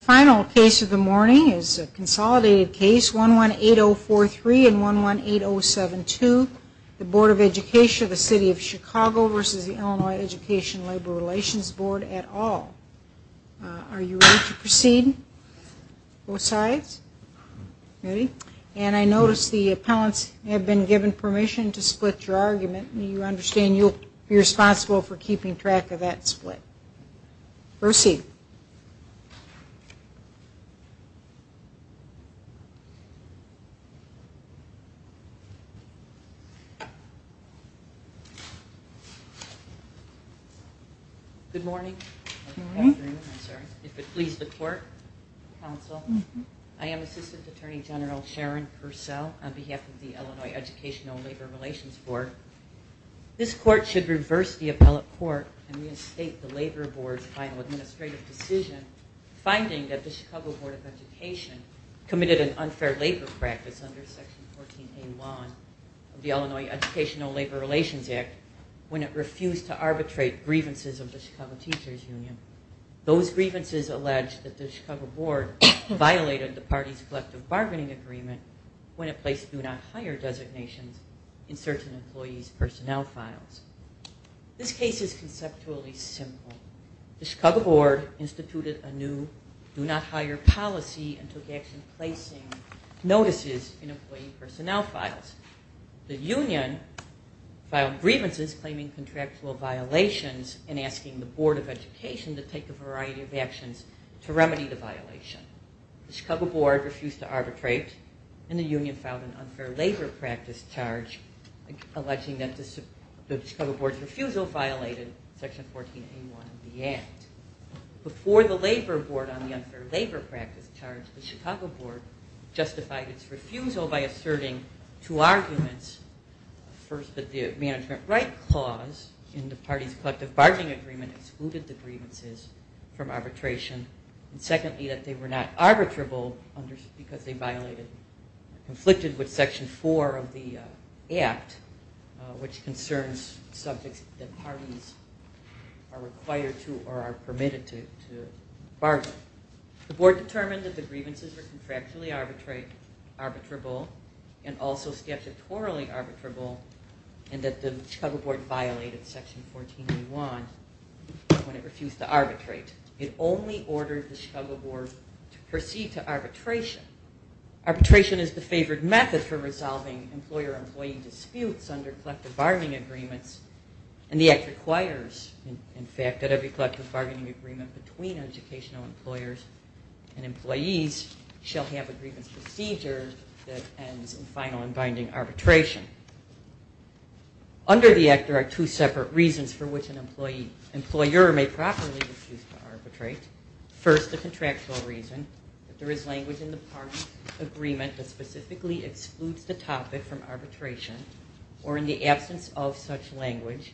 The final case of the morning is a consolidated case 118043 and 118072, the Board of Education of the City of Chicago versus the Illinois Education Labor Relations Board at all. Are you ready to proceed? Both sides? Ready? And I notice the appellants have been given permission to split your argument. You understand you'll be responsible for keeping track of that split. Proceed. Good morning. If it please the court, counsel. I am Assistant Attorney General Sharon Purcell on behalf of the Illinois Educational Labor Relations Board. This court should reverse the appellate court and reinstate the Labor Board's final administrative decision finding that the Chicago Board of Education committed an unfair labor practice under Section 14A1 of the Illinois Educational Labor Relations Act when it refused to arbitrate grievances of the Chicago Teachers Union. Those grievances alleged that the Chicago Board violated the party's collective bargaining agreement when it placed do not hire designations in certain employees' personnel files. This case is conceptually simple. The Chicago Board instituted a new do not hire policy and took action placing notices in employee personnel files. The union filed grievances claiming contractual violations and asking the Board of Education to take a variety of actions to remedy the violation. The Chicago Board refused to arbitrate and the union filed an unfair labor practice charge alleging that the Chicago Board's refusal violated Section 14A1 of the Act. Before the labor board on the unfair labor practice charge, the Chicago Board justified its refusal by asserting two arguments. First, that the management right clause in the party's collective bargaining agreement excluded the grievances from arbitration. And secondly, that they were not arbitrable because they violated, conflicted with Section 4 of the Act which concerns subjects that parties are required to or are permitted to bargain. The Board determined that the grievances were contractually arbitrable and also statutorily arbitrable and that the Chicago Board to proceed to arbitration. Arbitration is the favored method for resolving employer-employee disputes under collective bargaining agreements and the Act requires, in fact, that every collective bargaining agreement between educational employers and employees shall have a grievance procedure that ends in final and binding arbitration. Under the Act there are two separate reasons for which an arbitration is not arbitrable. First, the contractual reason that there is language in the party agreement that specifically excludes the topic from arbitration or in the absence of such language,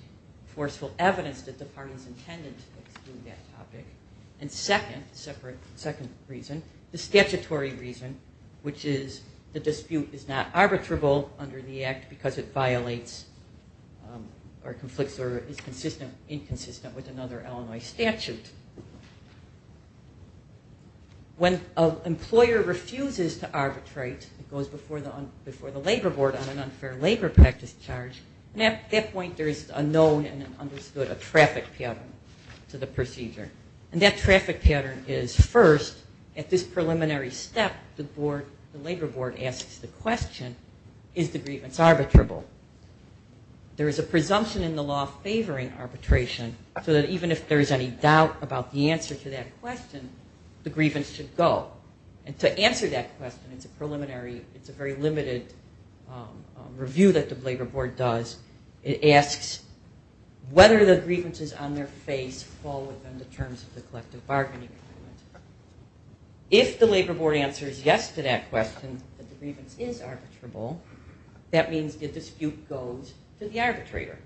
forceful evidence that the party is intended to exclude that topic. And second, the statutory reason which is the dispute is not arbitrable under the Act because it violates or conflicts or is inconsistent with another Illinois statute. When an employer refuses to arbitrate, it goes before the Labor Board on an unfair labor practice charge and at that point there is a known and understood traffic pattern to the procedure. And that traffic pattern is first, at this preliminary step, the Labor Board asks the parties if they doubt about the answer to that question, the grievance should go. And to answer that question, it's a preliminary, it's a very limited review that the Labor Board does. It asks whether the grievances on their face fall within the terms of the collective bargaining agreement. If the Labor Board answers yes to that question, that the grievance is arbitrable, that means the dispute goes to the arbitrator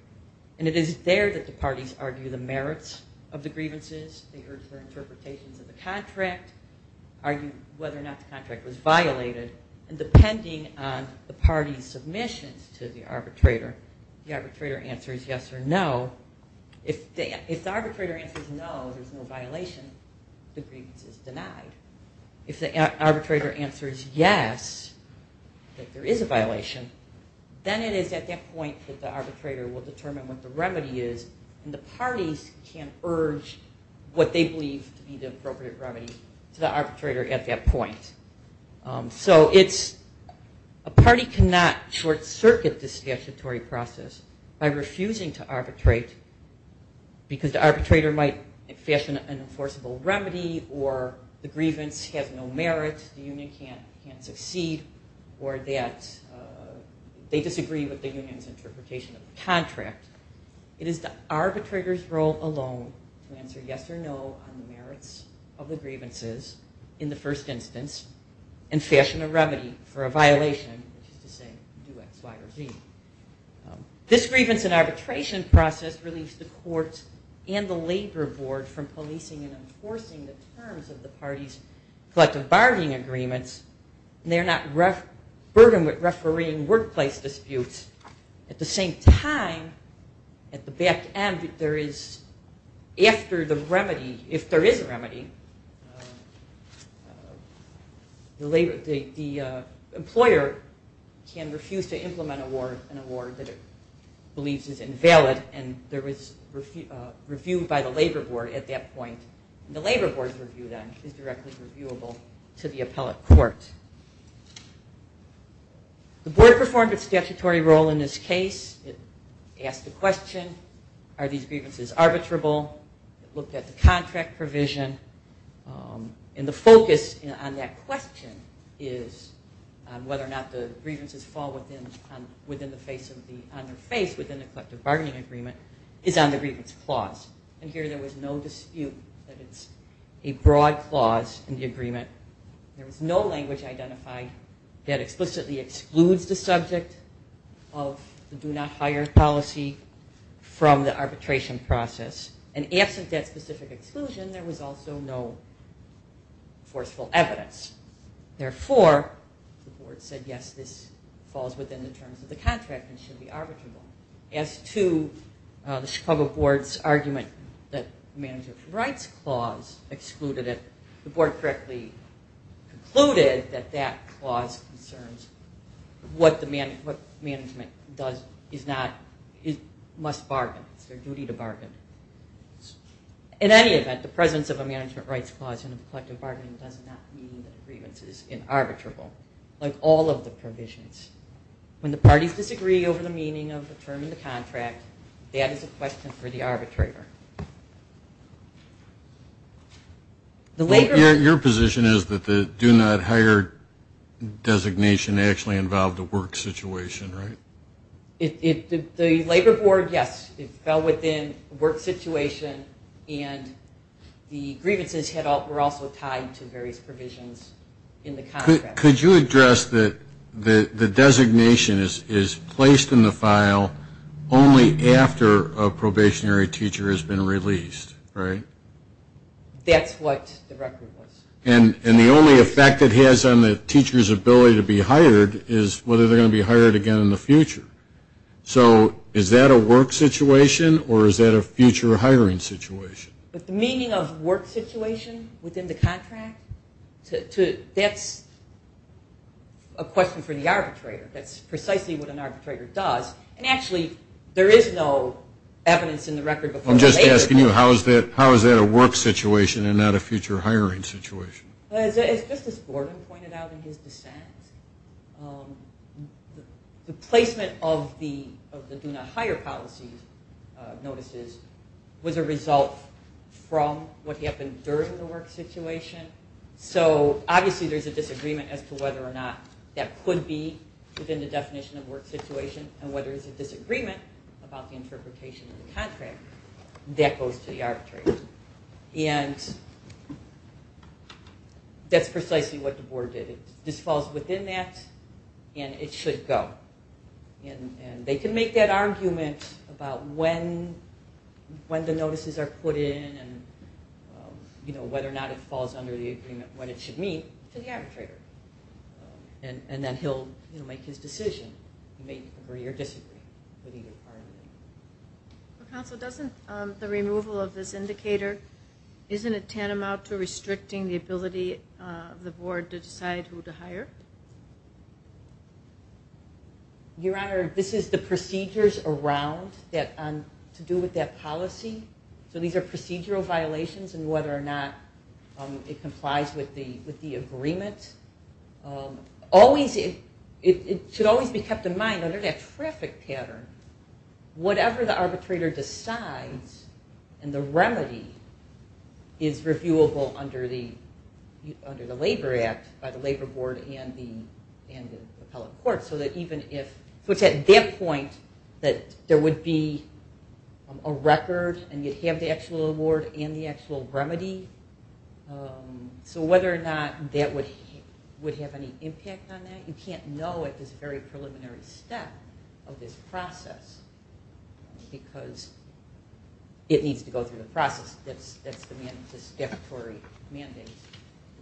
and it is there that the parties argue the merits of the grievances, they urge their interpretations of the contract, argue whether or not the contract was violated, and depending on the party's submissions to the arbitrator, the arbitrator answers yes or no. If the arbitrator answers no, there's no violation, the grievance is denied. If the arbitrator answers yes, that there is a violation, then it is at that point that the arbitrator will determine what the remedy is and the parties can urge what they believe to be the appropriate remedy to the arbitrator at that point. So it's a party cannot short-circuit the statutory process by refusing to arbitrate because the arbitrator might fashion an enforceable remedy or the parties can't enforce the contract. It is the arbitrator's role alone to answer yes or no on the merits of the grievances in the first instance and fashion a remedy for a violation, which is to say do X, Y, or Z. This grievance and arbitration process relieves the courts and the Labor Board from policing and enforcing the terms of the parties' collective bargaining agreements and they are not burdened with refereeing workplace disputes at the same time at the back end there is after the remedy, if there is a remedy, the employer can refuse to implement an award that it believes is invalid and there is review by the Labor Board at that point. The Labor Board's review then is directly reviewable to the appellate court. The board performed its statutory role in this case. It asked the question are these grievances arbitrable? It looked at the contract provision and the focus on that question is whether or not the grievances fall on their face within the collective bargaining agreement is on the grievance clause and here there was no clause in the agreement. There was no language identified that explicitly excludes the subject of the do not hire policy from the arbitration process and absent that specific exclusion there was also no forceful evidence. Therefore, the board said yes, this falls within the terms of the contract and should be reviewed. The board correctly concluded that that clause concerns what management must bargain. It's their duty to bargain. In any event, the presence of a management rights clause in a collective bargaining does not mean that grievance is inarbitrable like all of the provisions. When the parties disagree over the term of the contract, that is a question for the arbitrator. Your position is that the do not hire designation actually involved a work situation, right? The Labor is placed in the file only after a probationary teacher has been released, right? That's what the record was. And the only effect it has on the teacher's ability to be hired is whether they're going to be hired again in the future. So is that a work situation or is that a future hiring situation? But the meaning of work situation within the contract, that's a question for the arbitrator. That's precisely what an arbitrator does. And actually, there is no evidence in the record. I'm just asking you, how is that a work situation and not a future hiring situation? As Justice Borden pointed out in his dissent, the placement of the do not hire policies notices was a result from what happened during the work situation. So obviously there's a disagreement as to whether or not that could be within the definition of work situation and whether it's a disagreement about the interpretation of the contract. That goes to the arbitrator. And that's precisely what the board did. It just falls within that and it should go. And they can make that argument about when the notices are put in and whether or not it falls under the agreement when it should meet to the arbitrator. And then he'll make his decision. He may agree or disagree with either part of it. Council, doesn't the removal of this indicator, isn't it tantamount to restricting the ability of the board to decide who to hire? Your Honor, this is the procedures around that to do with that policy. So these are procedural violations and whether or not it complies with the agreement. It should always be kept in mind under that traffic pattern, whatever the arbitrator decides and the remedy is reviewable under the labor act by the labor board and the appellate would have any impact on that. You can't know it is a very preliminary step of this process because it needs to go through the process. That's the mandatory mandate.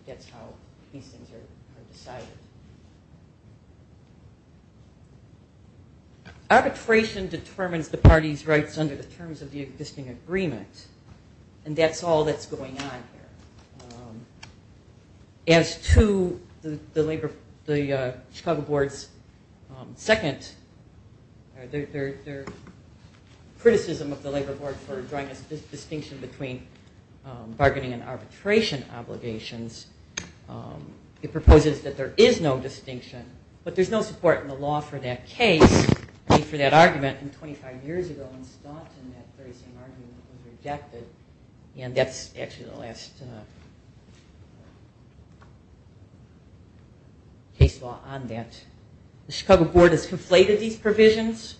That's how these things are decided. Arbitration determines the party's rights under the terms of the existing agreement and that's all that's going on here. As to the Chicago board's criticism of the labor board for drawing a distinction between bargaining and arbitration obligations, it proposes that there is no distinction but there's no support in the law for that case, for that argument, and 25 years ago in Staunton that very same argument was rejected and that's actually the last case law on that. The Chicago board has conflated these provisions,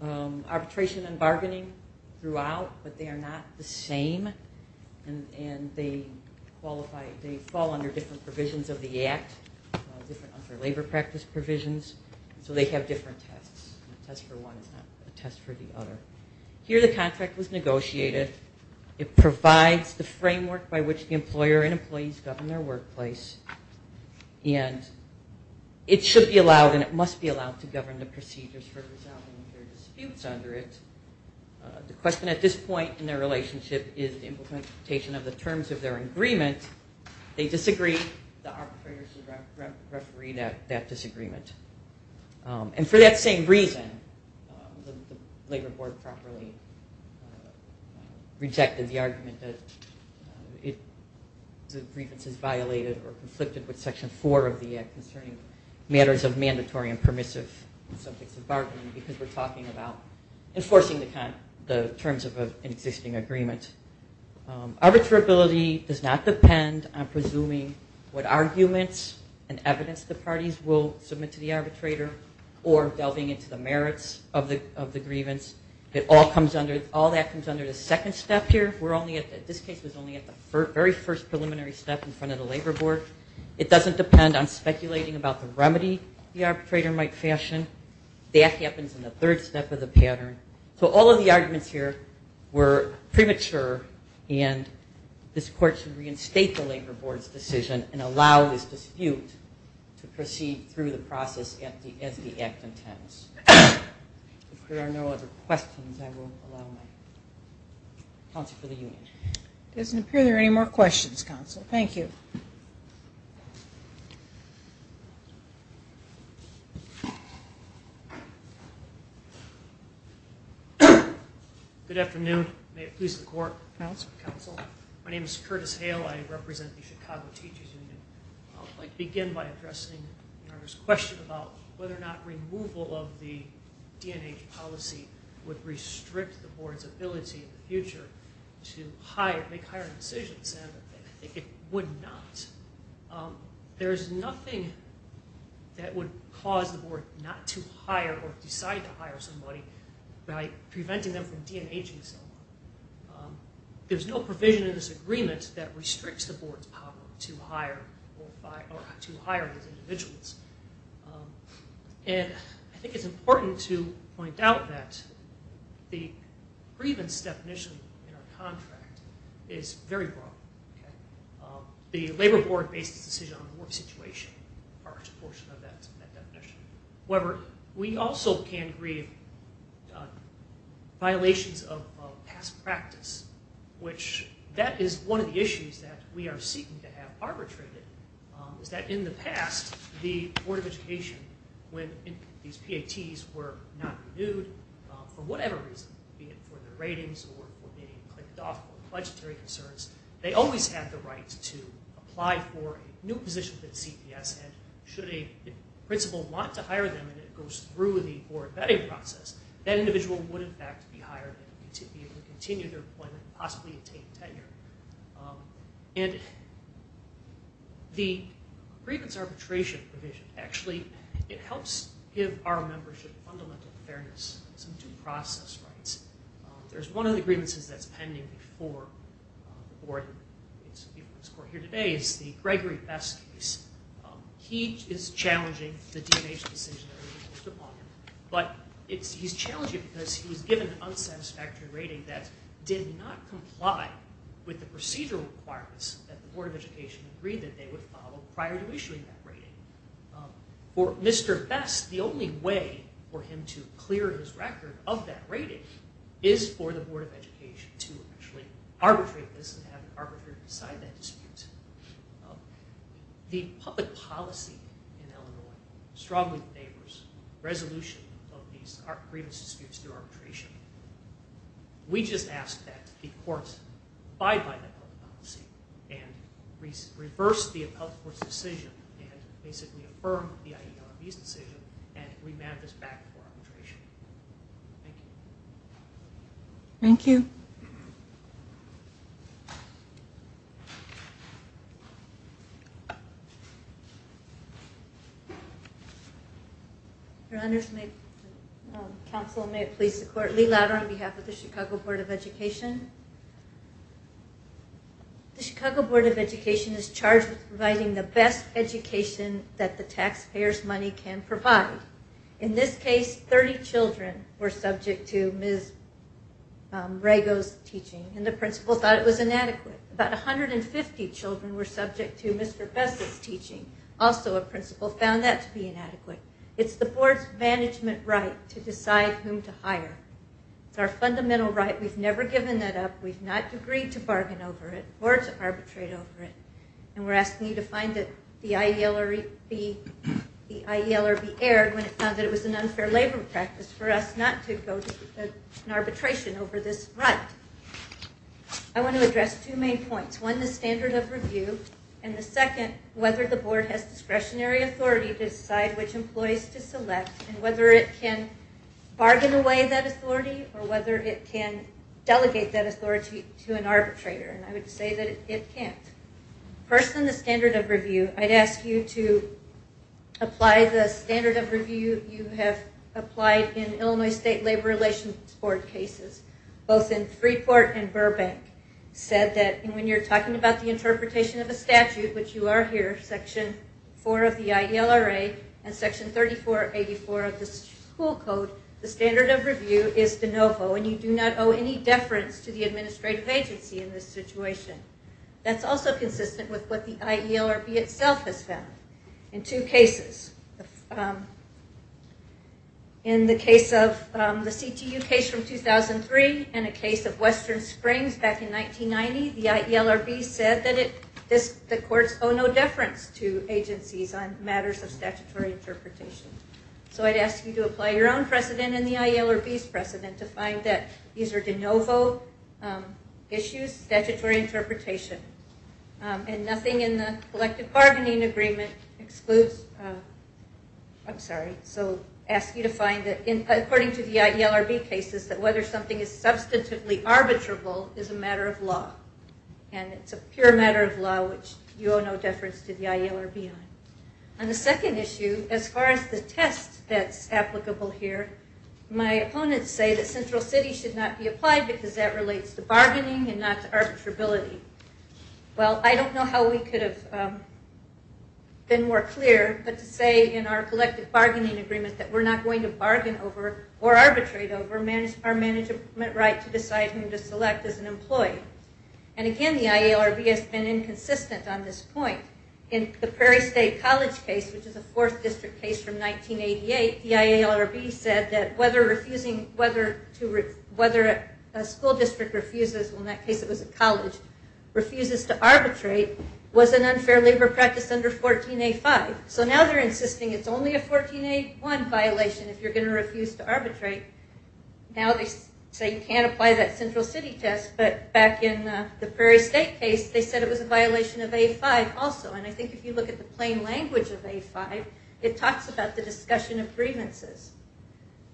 arbitration and bargaining, throughout, but they are not the same and they fall under different provisions of the act, different under labor practice provisions, so they have different tests. A test for one is not a test for the other. Here the contract was negotiated. It provides the framework by which the employer and employees govern their workplace and it should be allowed and it must be allowed to govern the procedures for resolving disputes under it. The question at this point in their relationship is the implementation of the terms of their agreement. If they disagree, the arbitrator should referee that disagreement. And for that same reason, the labor board properly rejected the argument that the grievance is violated or conflicted with section 4 of the act concerning matters of mandatory and permissive bargaining because we're talking about enforcing the terms of an existing agreement. Arbitrability does not depend on presuming what arguments and evidence the parties will submit to the arbitrator or delving into the merits of the grievance. All that comes under the second step here. This case was only at the very first preliminary step in front of the labor board. It doesn't depend on speculating about the remedy the arbitrator might fashion. That happens in the third step of the pattern. So all of the arguments here were premature and this court should reinstate the labor board's decision and allow this dispute to proceed through the process as the act intends. If there are no other questions, I will allow my council for the union. It doesn't appear there are any more questions, counsel. Thank you. Good afternoon. May it please the court. My name is Curtis Hale. I represent the Chicago Teachers Union. I'd like to begin by addressing the question about whether or not removal of the DNH policy would restrict the board's ability in the future to make higher decisions. I think it would not. There's nothing that would cause the board not to hire or decide to hire somebody by preventing them from DNHing someone. There's no provision in this agreement that restricts the board's power to hire these individuals. And I think it's important to point out that the grievance definition in our contract is very broad. The labor board based its decision on the work situation. However, we also can grieve violations of past practice, which that is one of the issues that we are seeking to have arbitrated. Is that in the past, the Board of Education, when these PATs were not renewed for whatever reason, be it for their ratings or for being clicked off or legitimate concerns, they always had the right to apply for a new position that CPS had. Should a principal want to hire them and it goes through the board vetting process, that individual would in fact be hired to be able to continue their employment and possibly attain tenure. And the grievance arbitration provision, actually, it helps give our membership fundamental fairness, some due process rights. There's one of the grievances that's pending before the board in its court here today. It's the Gregory Best case. He is challenging the DNH decision that was imposed upon him. But he's challenging it because he was given an unsatisfactory rating that did not comply with the procedural requirements that the Board of Education agreed that they would follow prior to issuing that rating. For Mr. Best, the only way for him to clear his record of that rating is for the Board of Education to actually arbitrate this and have it arbitrated beside that dispute. The public policy in Illinois strongly favors resolution of these grievance disputes through arbitration. We just ask that the courts abide by that public policy and reverse the appellate court's decision and basically affirm the IERB's decision and remand this back for arbitration. Thank you. Thank you. Thank you. Thank you. In this case, 30 children were subject to Ms. Rago's teaching, and the principal thought it was inadequate. About 150 children were subject to Mr. Best's teaching. Also, a principal found that to be inadequate. It's the Board's management right to decide whom to hire. It's our fundamental right. We've never given that up. We've not agreed to bargain over it, or to arbitrate over it, and we're asking you to find that the IERB erred when it found that it was an unfair labor practice for us not to go to an arbitration over this right. I want to address two main points. One, the standard of review, and the second, whether the Board has discretionary authority to decide which employees to select and whether it can bargain away that authority or whether it can delegate that authority to an arbitrator. I would say that it can't. First, on the standard of review, I'd ask you to apply the standard of review you have applied in Illinois State Labor Relations Board cases, both in Freeport and Burbank. When you're talking about the interpretation of a statute, which you are here, Section 4 of the IELRA and Section 3484 of the school code, the standard of review is de novo, and you do not owe any deference to the administrative agency in this situation. That's also consistent with what the IELRB itself has found in two cases. In the CTU case from 2003 and a case of Western Springs back in 1990, the IELRB said that the courts owe no deference to agencies on matters of statutory interpretation. So I'd ask you to apply your own precedent and the IELRB's precedent to find that these are de novo issues, statutory interpretation, and nothing in the collective bargaining agreement excludes, I'm sorry, so I ask you to find that according to the IELRB cases, that whether something is substantively arbitrable is a matter of law, and it's a pure matter of law which you owe no deference to the IELRB on. On the second issue, as far as the test that's applicable here, my opponents say that Central City should not be applied because that relates to bargaining and not arbitrability. Well, I don't know how we could have been more clear, but to say in our collective bargaining agreement that we're not going to bargain over or arbitrate over our management right to decide who to select as an employee. And again, the IELRB has been inconsistent on this point. In the Prairie State College case, which is a 4th district case from 1988, the IELRB said that whether a school district refuses, well in that case it was a college, refuses to arbitrate was an unfair labor practice under 14A5. So now they're insisting it's only a 14A1 violation if you're going to refuse to arbitrate. Now they say you can't apply that Central City test, but back in the Prairie State case, they said it was a violation of A5 also. And I think if you look at the plain language of A5, it talks about the discussion of grievances.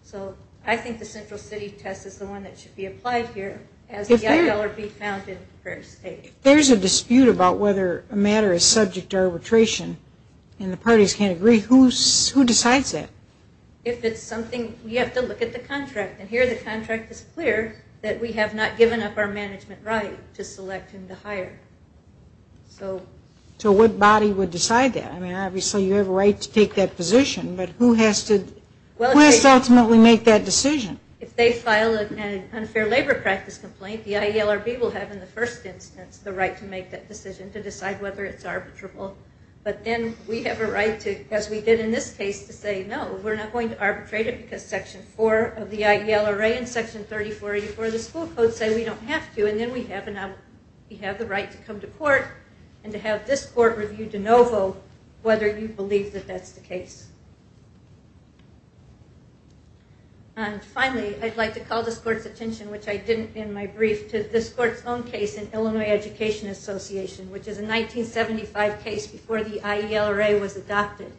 So I think the Central City test is the one that should be applied here as the IELRB found in Prairie State. If there's a dispute about whether a matter is subject to arbitration and the parties can't agree, who decides that? If it's something, you have to look at the contract. And here the contract is clear that we have not given up our management right to select and to hire. So what body would decide that? I mean, obviously you have a right to take that position, but who has to ultimately make that decision? If they file an unfair labor practice complaint, the IELRB will have in the first instance the right to make that decision to decide whether it's arbitrable. But then we have a right to, as we did in this case, to say no, we're not going to arbitrate it because Section 4 of the IELRA and Section 3484 of the school code say we don't have to. And then we have the right to come to court and to have this court review de novo whether you believe that that's the case. And finally, I'd like to call this court's attention, which I didn't in my brief, to this court's own case in Illinois Education Association, which is a 1975 case before the IELRA was adopted.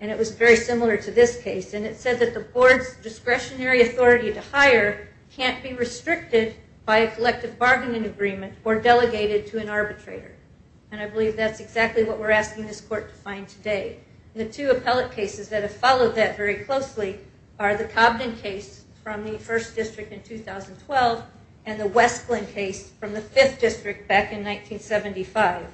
And it was very similar to this case. And it said that the board's discretionary authority to hire can't be restricted by a collective bargaining agreement or delegated to an arbitrator. And I believe that's exactly what we're asking this court to find today. The two appellate cases that have followed that very closely are the Cobden case from the 1st District in 2012 and the Westland case from the 5th District back in 1975.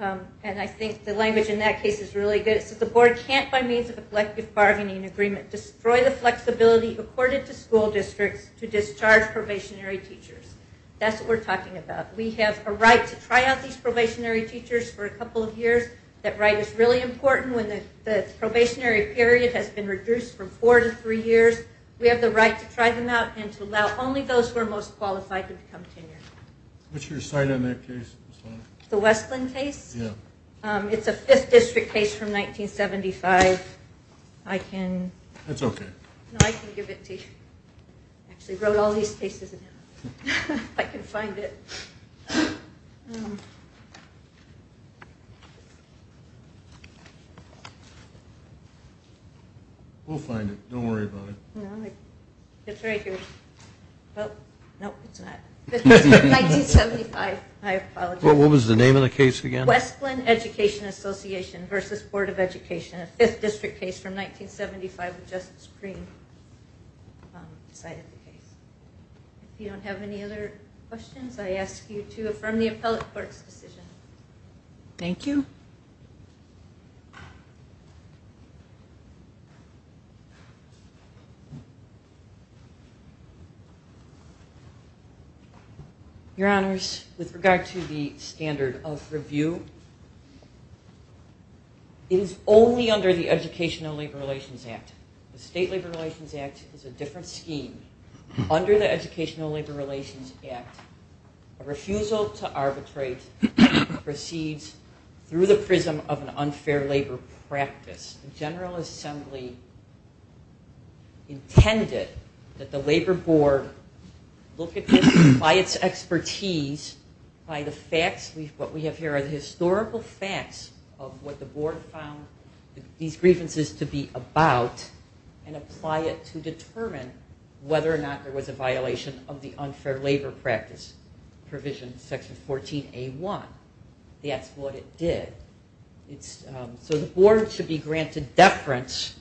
And I think the language in that case is really good. It said the board can't, by means of a collective bargaining agreement, destroy the flexibility accorded to school districts to discharge probationary teachers. That's what we're talking about. We have a right to try out these probationary teachers for a couple of years. That right is really important when the probationary period has been reduced from four to three years. We have the right to try them out and to allow only those who are most qualified to become tenured. What's your side on that case? The Westland case? Yeah. It's a 5th District case from 1975. I can... That's okay. No, I can give it to you. I actually wrote all these cases in it. I can find it. We'll find it. Don't worry about it. It's right here. Nope, it's not. 1975. I apologize. What was the name of the case again? Westland Education Association v. Board of Education. A 5th District case from 1975 with Justice Green decided the case. If you don't have any other questions, I ask you to affirm the appellate court's decision. Thank you. Your Honors, with regard to the standard of review, it is only under the Educational Labor Relations Act. The State Labor Relations Act is a different scheme. Under the Educational Labor Relations Act, a refusal to arbitrate proceeds through the prism of an unfair labor practice. The General Assembly intended that the Labor Board look at this by its expertise, by the facts, what we have here are the historical facts of what the Board found these grievances to be about and apply it to determine whether or not there was a violation of the unfair labor practice provision section 14A1. That's what it did. So the Board should be granted deference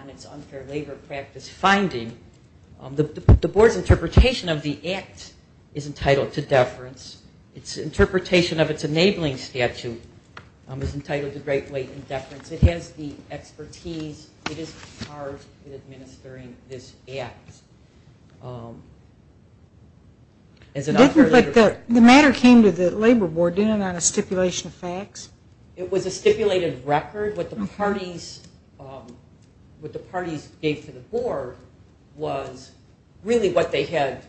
on its unfair labor practice finding. The Board's interpretation of the act is entitled to deference. Its interpretation of its enabling statute is entitled to great blatant deference. It has the expertise. It is charged with administering this act. The matter came to the Labor Board, didn't it, on a stipulation of facts? It was a stipulated record. What the parties gave to the Board was really what they had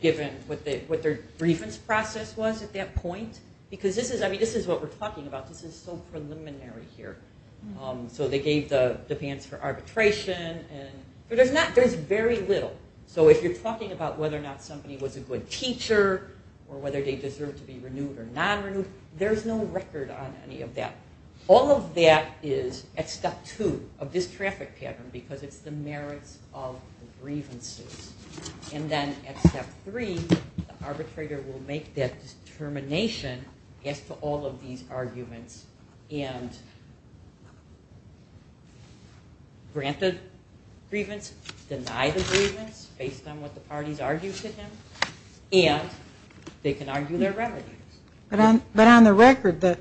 given, what their grievance process was at that point. This is what we're talking about. This is so preliminary here. So they gave the demands for arbitration. There's very little. So if you're talking about whether or not somebody was a good teacher or whether they deserved to be renewed or non-renewed, there's no record on any of that. All of that is at step two of this traffic pattern because it's the merits of the grievances. And then at step three, the arbitrator will make that determination as to all of these arguments and grant the grievance, deny the grievance based on what the parties argued to him, and they can argue their remedies. But on the record, the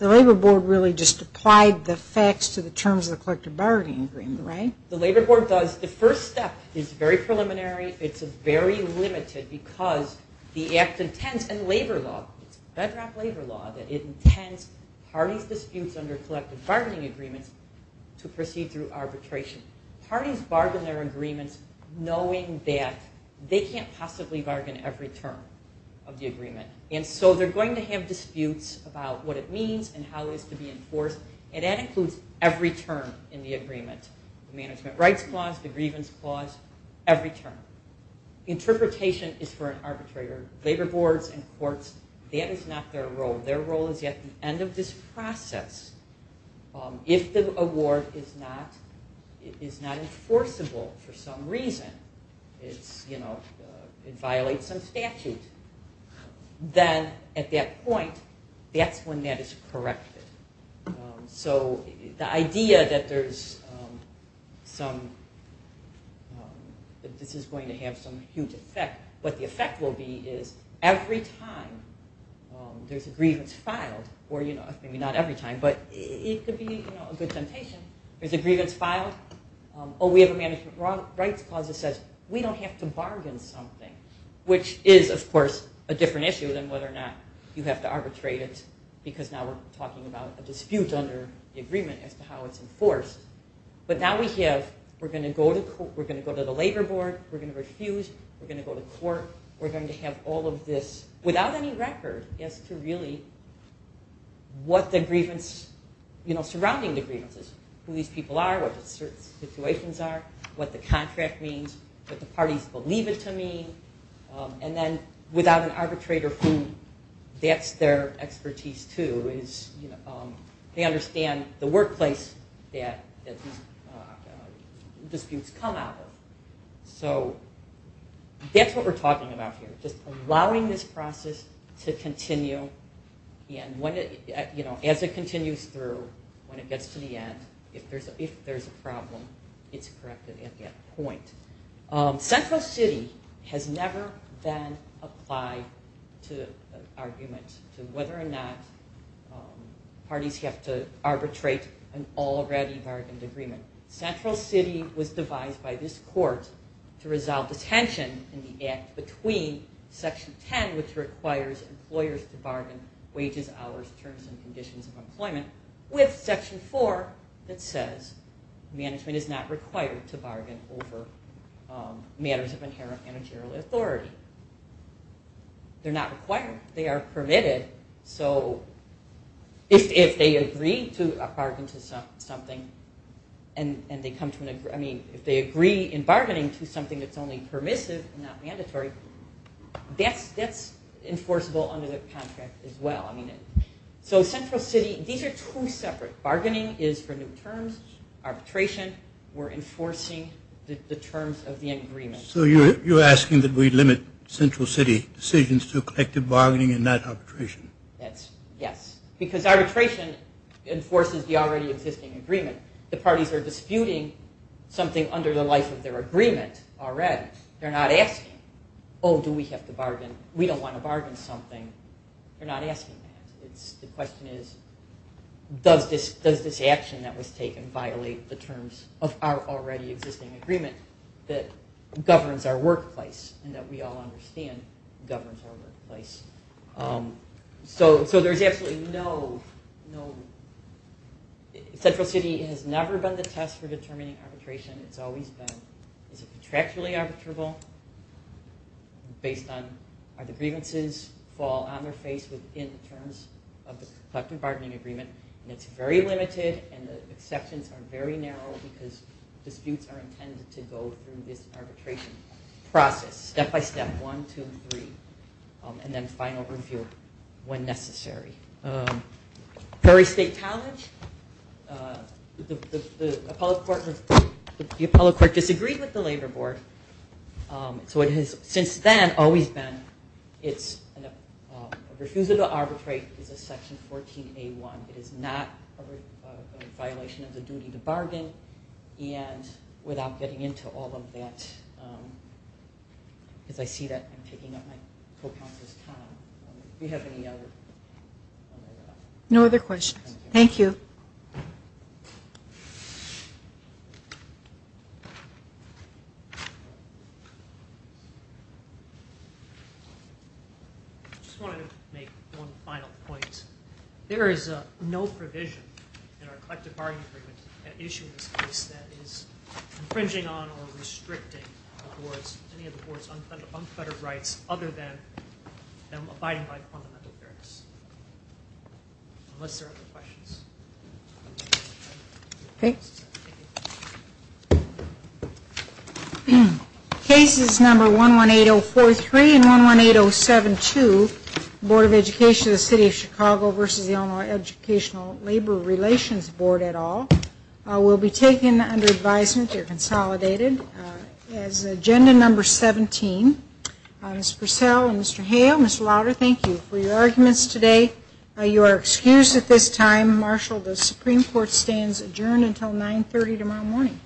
Labor Board really just applied the facts to the terms of the collective bargaining agreement, right? The Labor Board does. The first step is very preliminary. It's very limited because the act intends in labor law, it's bedrock labor law, that it intends parties' disputes under collective bargaining agreements to proceed through arbitration. Parties bargain their agreements knowing that they can't possibly bargain every term of the agreement. And so they're going to have disputes about what it means and how it is to be enforced, and that includes every term in the agreement. The management rights clause, the grievance clause, every term. Interpretation is for an arbitrator. Labor boards and courts, that is not their role. Their role is at the end of this process. If the award is not enforceable for some reason, it violates some statute, then at that point, that's when that is corrected. So the idea that there's some, that this is going to have some huge effect, what the effect will be is every time there's a grievance filed, or maybe not every time, but it could be a good temptation, there's a grievance filed, or we have a management rights clause that says, we don't have to bargain something. Which is, of course, a different issue than whether or not you have to arbitrate it, because now we're talking about a dispute under the agreement as to how it's enforced. But now we have, we're going to go to the labor board, we're going to refuse, we're going to go to court, we're going to have all of this without any record as to really what the grievance, you know, surrounding the grievance is. Who these people are, what the situations are, what the contract means, would the parties believe it to mean, and then without an arbitrator, who that's their expertise too, is, you know, they understand the workplace that these disputes come out of. So that's what we're talking about here, just allowing this process to continue, and when it, you know, as it continues through, when it gets to the end, if there's a problem, it's corrected at that point. Central City has never then applied to an argument to whether or not parties have to arbitrate an already bargained agreement. Central City was devised by this court to resolve the tension in the act between Section 10, which requires employers to bargain wages, hours, terms, and conditions of employment, with Section 4 that says management is not required to bargain over matters of inherent managerial authority. They're not required. They are permitted. So if they agree to a bargain to something and they come to an, I mean, if they agree in bargaining to something that's only permissive and not mandatory, that's enforceable under the contract as well. I mean, so Central City, these are two separate. Bargaining is for new terms, arbitration, we're enforcing the terms of the agreement. So you're asking that we limit Central City decisions to collective bargaining and not arbitration? Yes, because arbitration enforces the already existing agreement. The parties are disputing something under the life of their agreement already. They're not asking, oh, do we have to bargain? We don't want to bargain something. They're not asking that. The question is does this action that was taken violate the terms of our already existing agreement that governs our workplace and that we all understand governs our workplace. So there's absolutely no, no, Central City has never been the test for determining arbitration. It's always been is it contractually arbitrable based on are the grievances fall on their face within the terms of the collective bargaining agreement. And it's very limited and the exceptions are very narrow because disputes are intended to go through this arbitration process, step by step, one, two, and three, and then final review when necessary. Perry State College, the appellate court disagreed with the labor board. So it has since then always been it's a refusal to arbitrate is a section 14A1. It is not a violation of the duty to bargain. And without getting into all of that, as I see that I'm taking up my co-counsel's time. Do we have any other? No other questions. Thank you. I just wanted to make one final point. There is no provision in our collective bargaining agreement that issues this case that is infringing on or restricting the board's, unfettered rights other than abiding by fundamental fairness. Unless there are other questions. Okay. Cases number 118043 and 118072, Board of Education of the City of Chicago versus the Illinois Educational Labor Relations Board et al, will be taken under advisement. They're consolidated. As agenda number 17, Ms. Purcell and Mr. Hale, Ms. Lauder, thank you for your arguments today. You are excused at this time. Marshal, the Supreme Court stands adjourned until 930 tomorrow morning.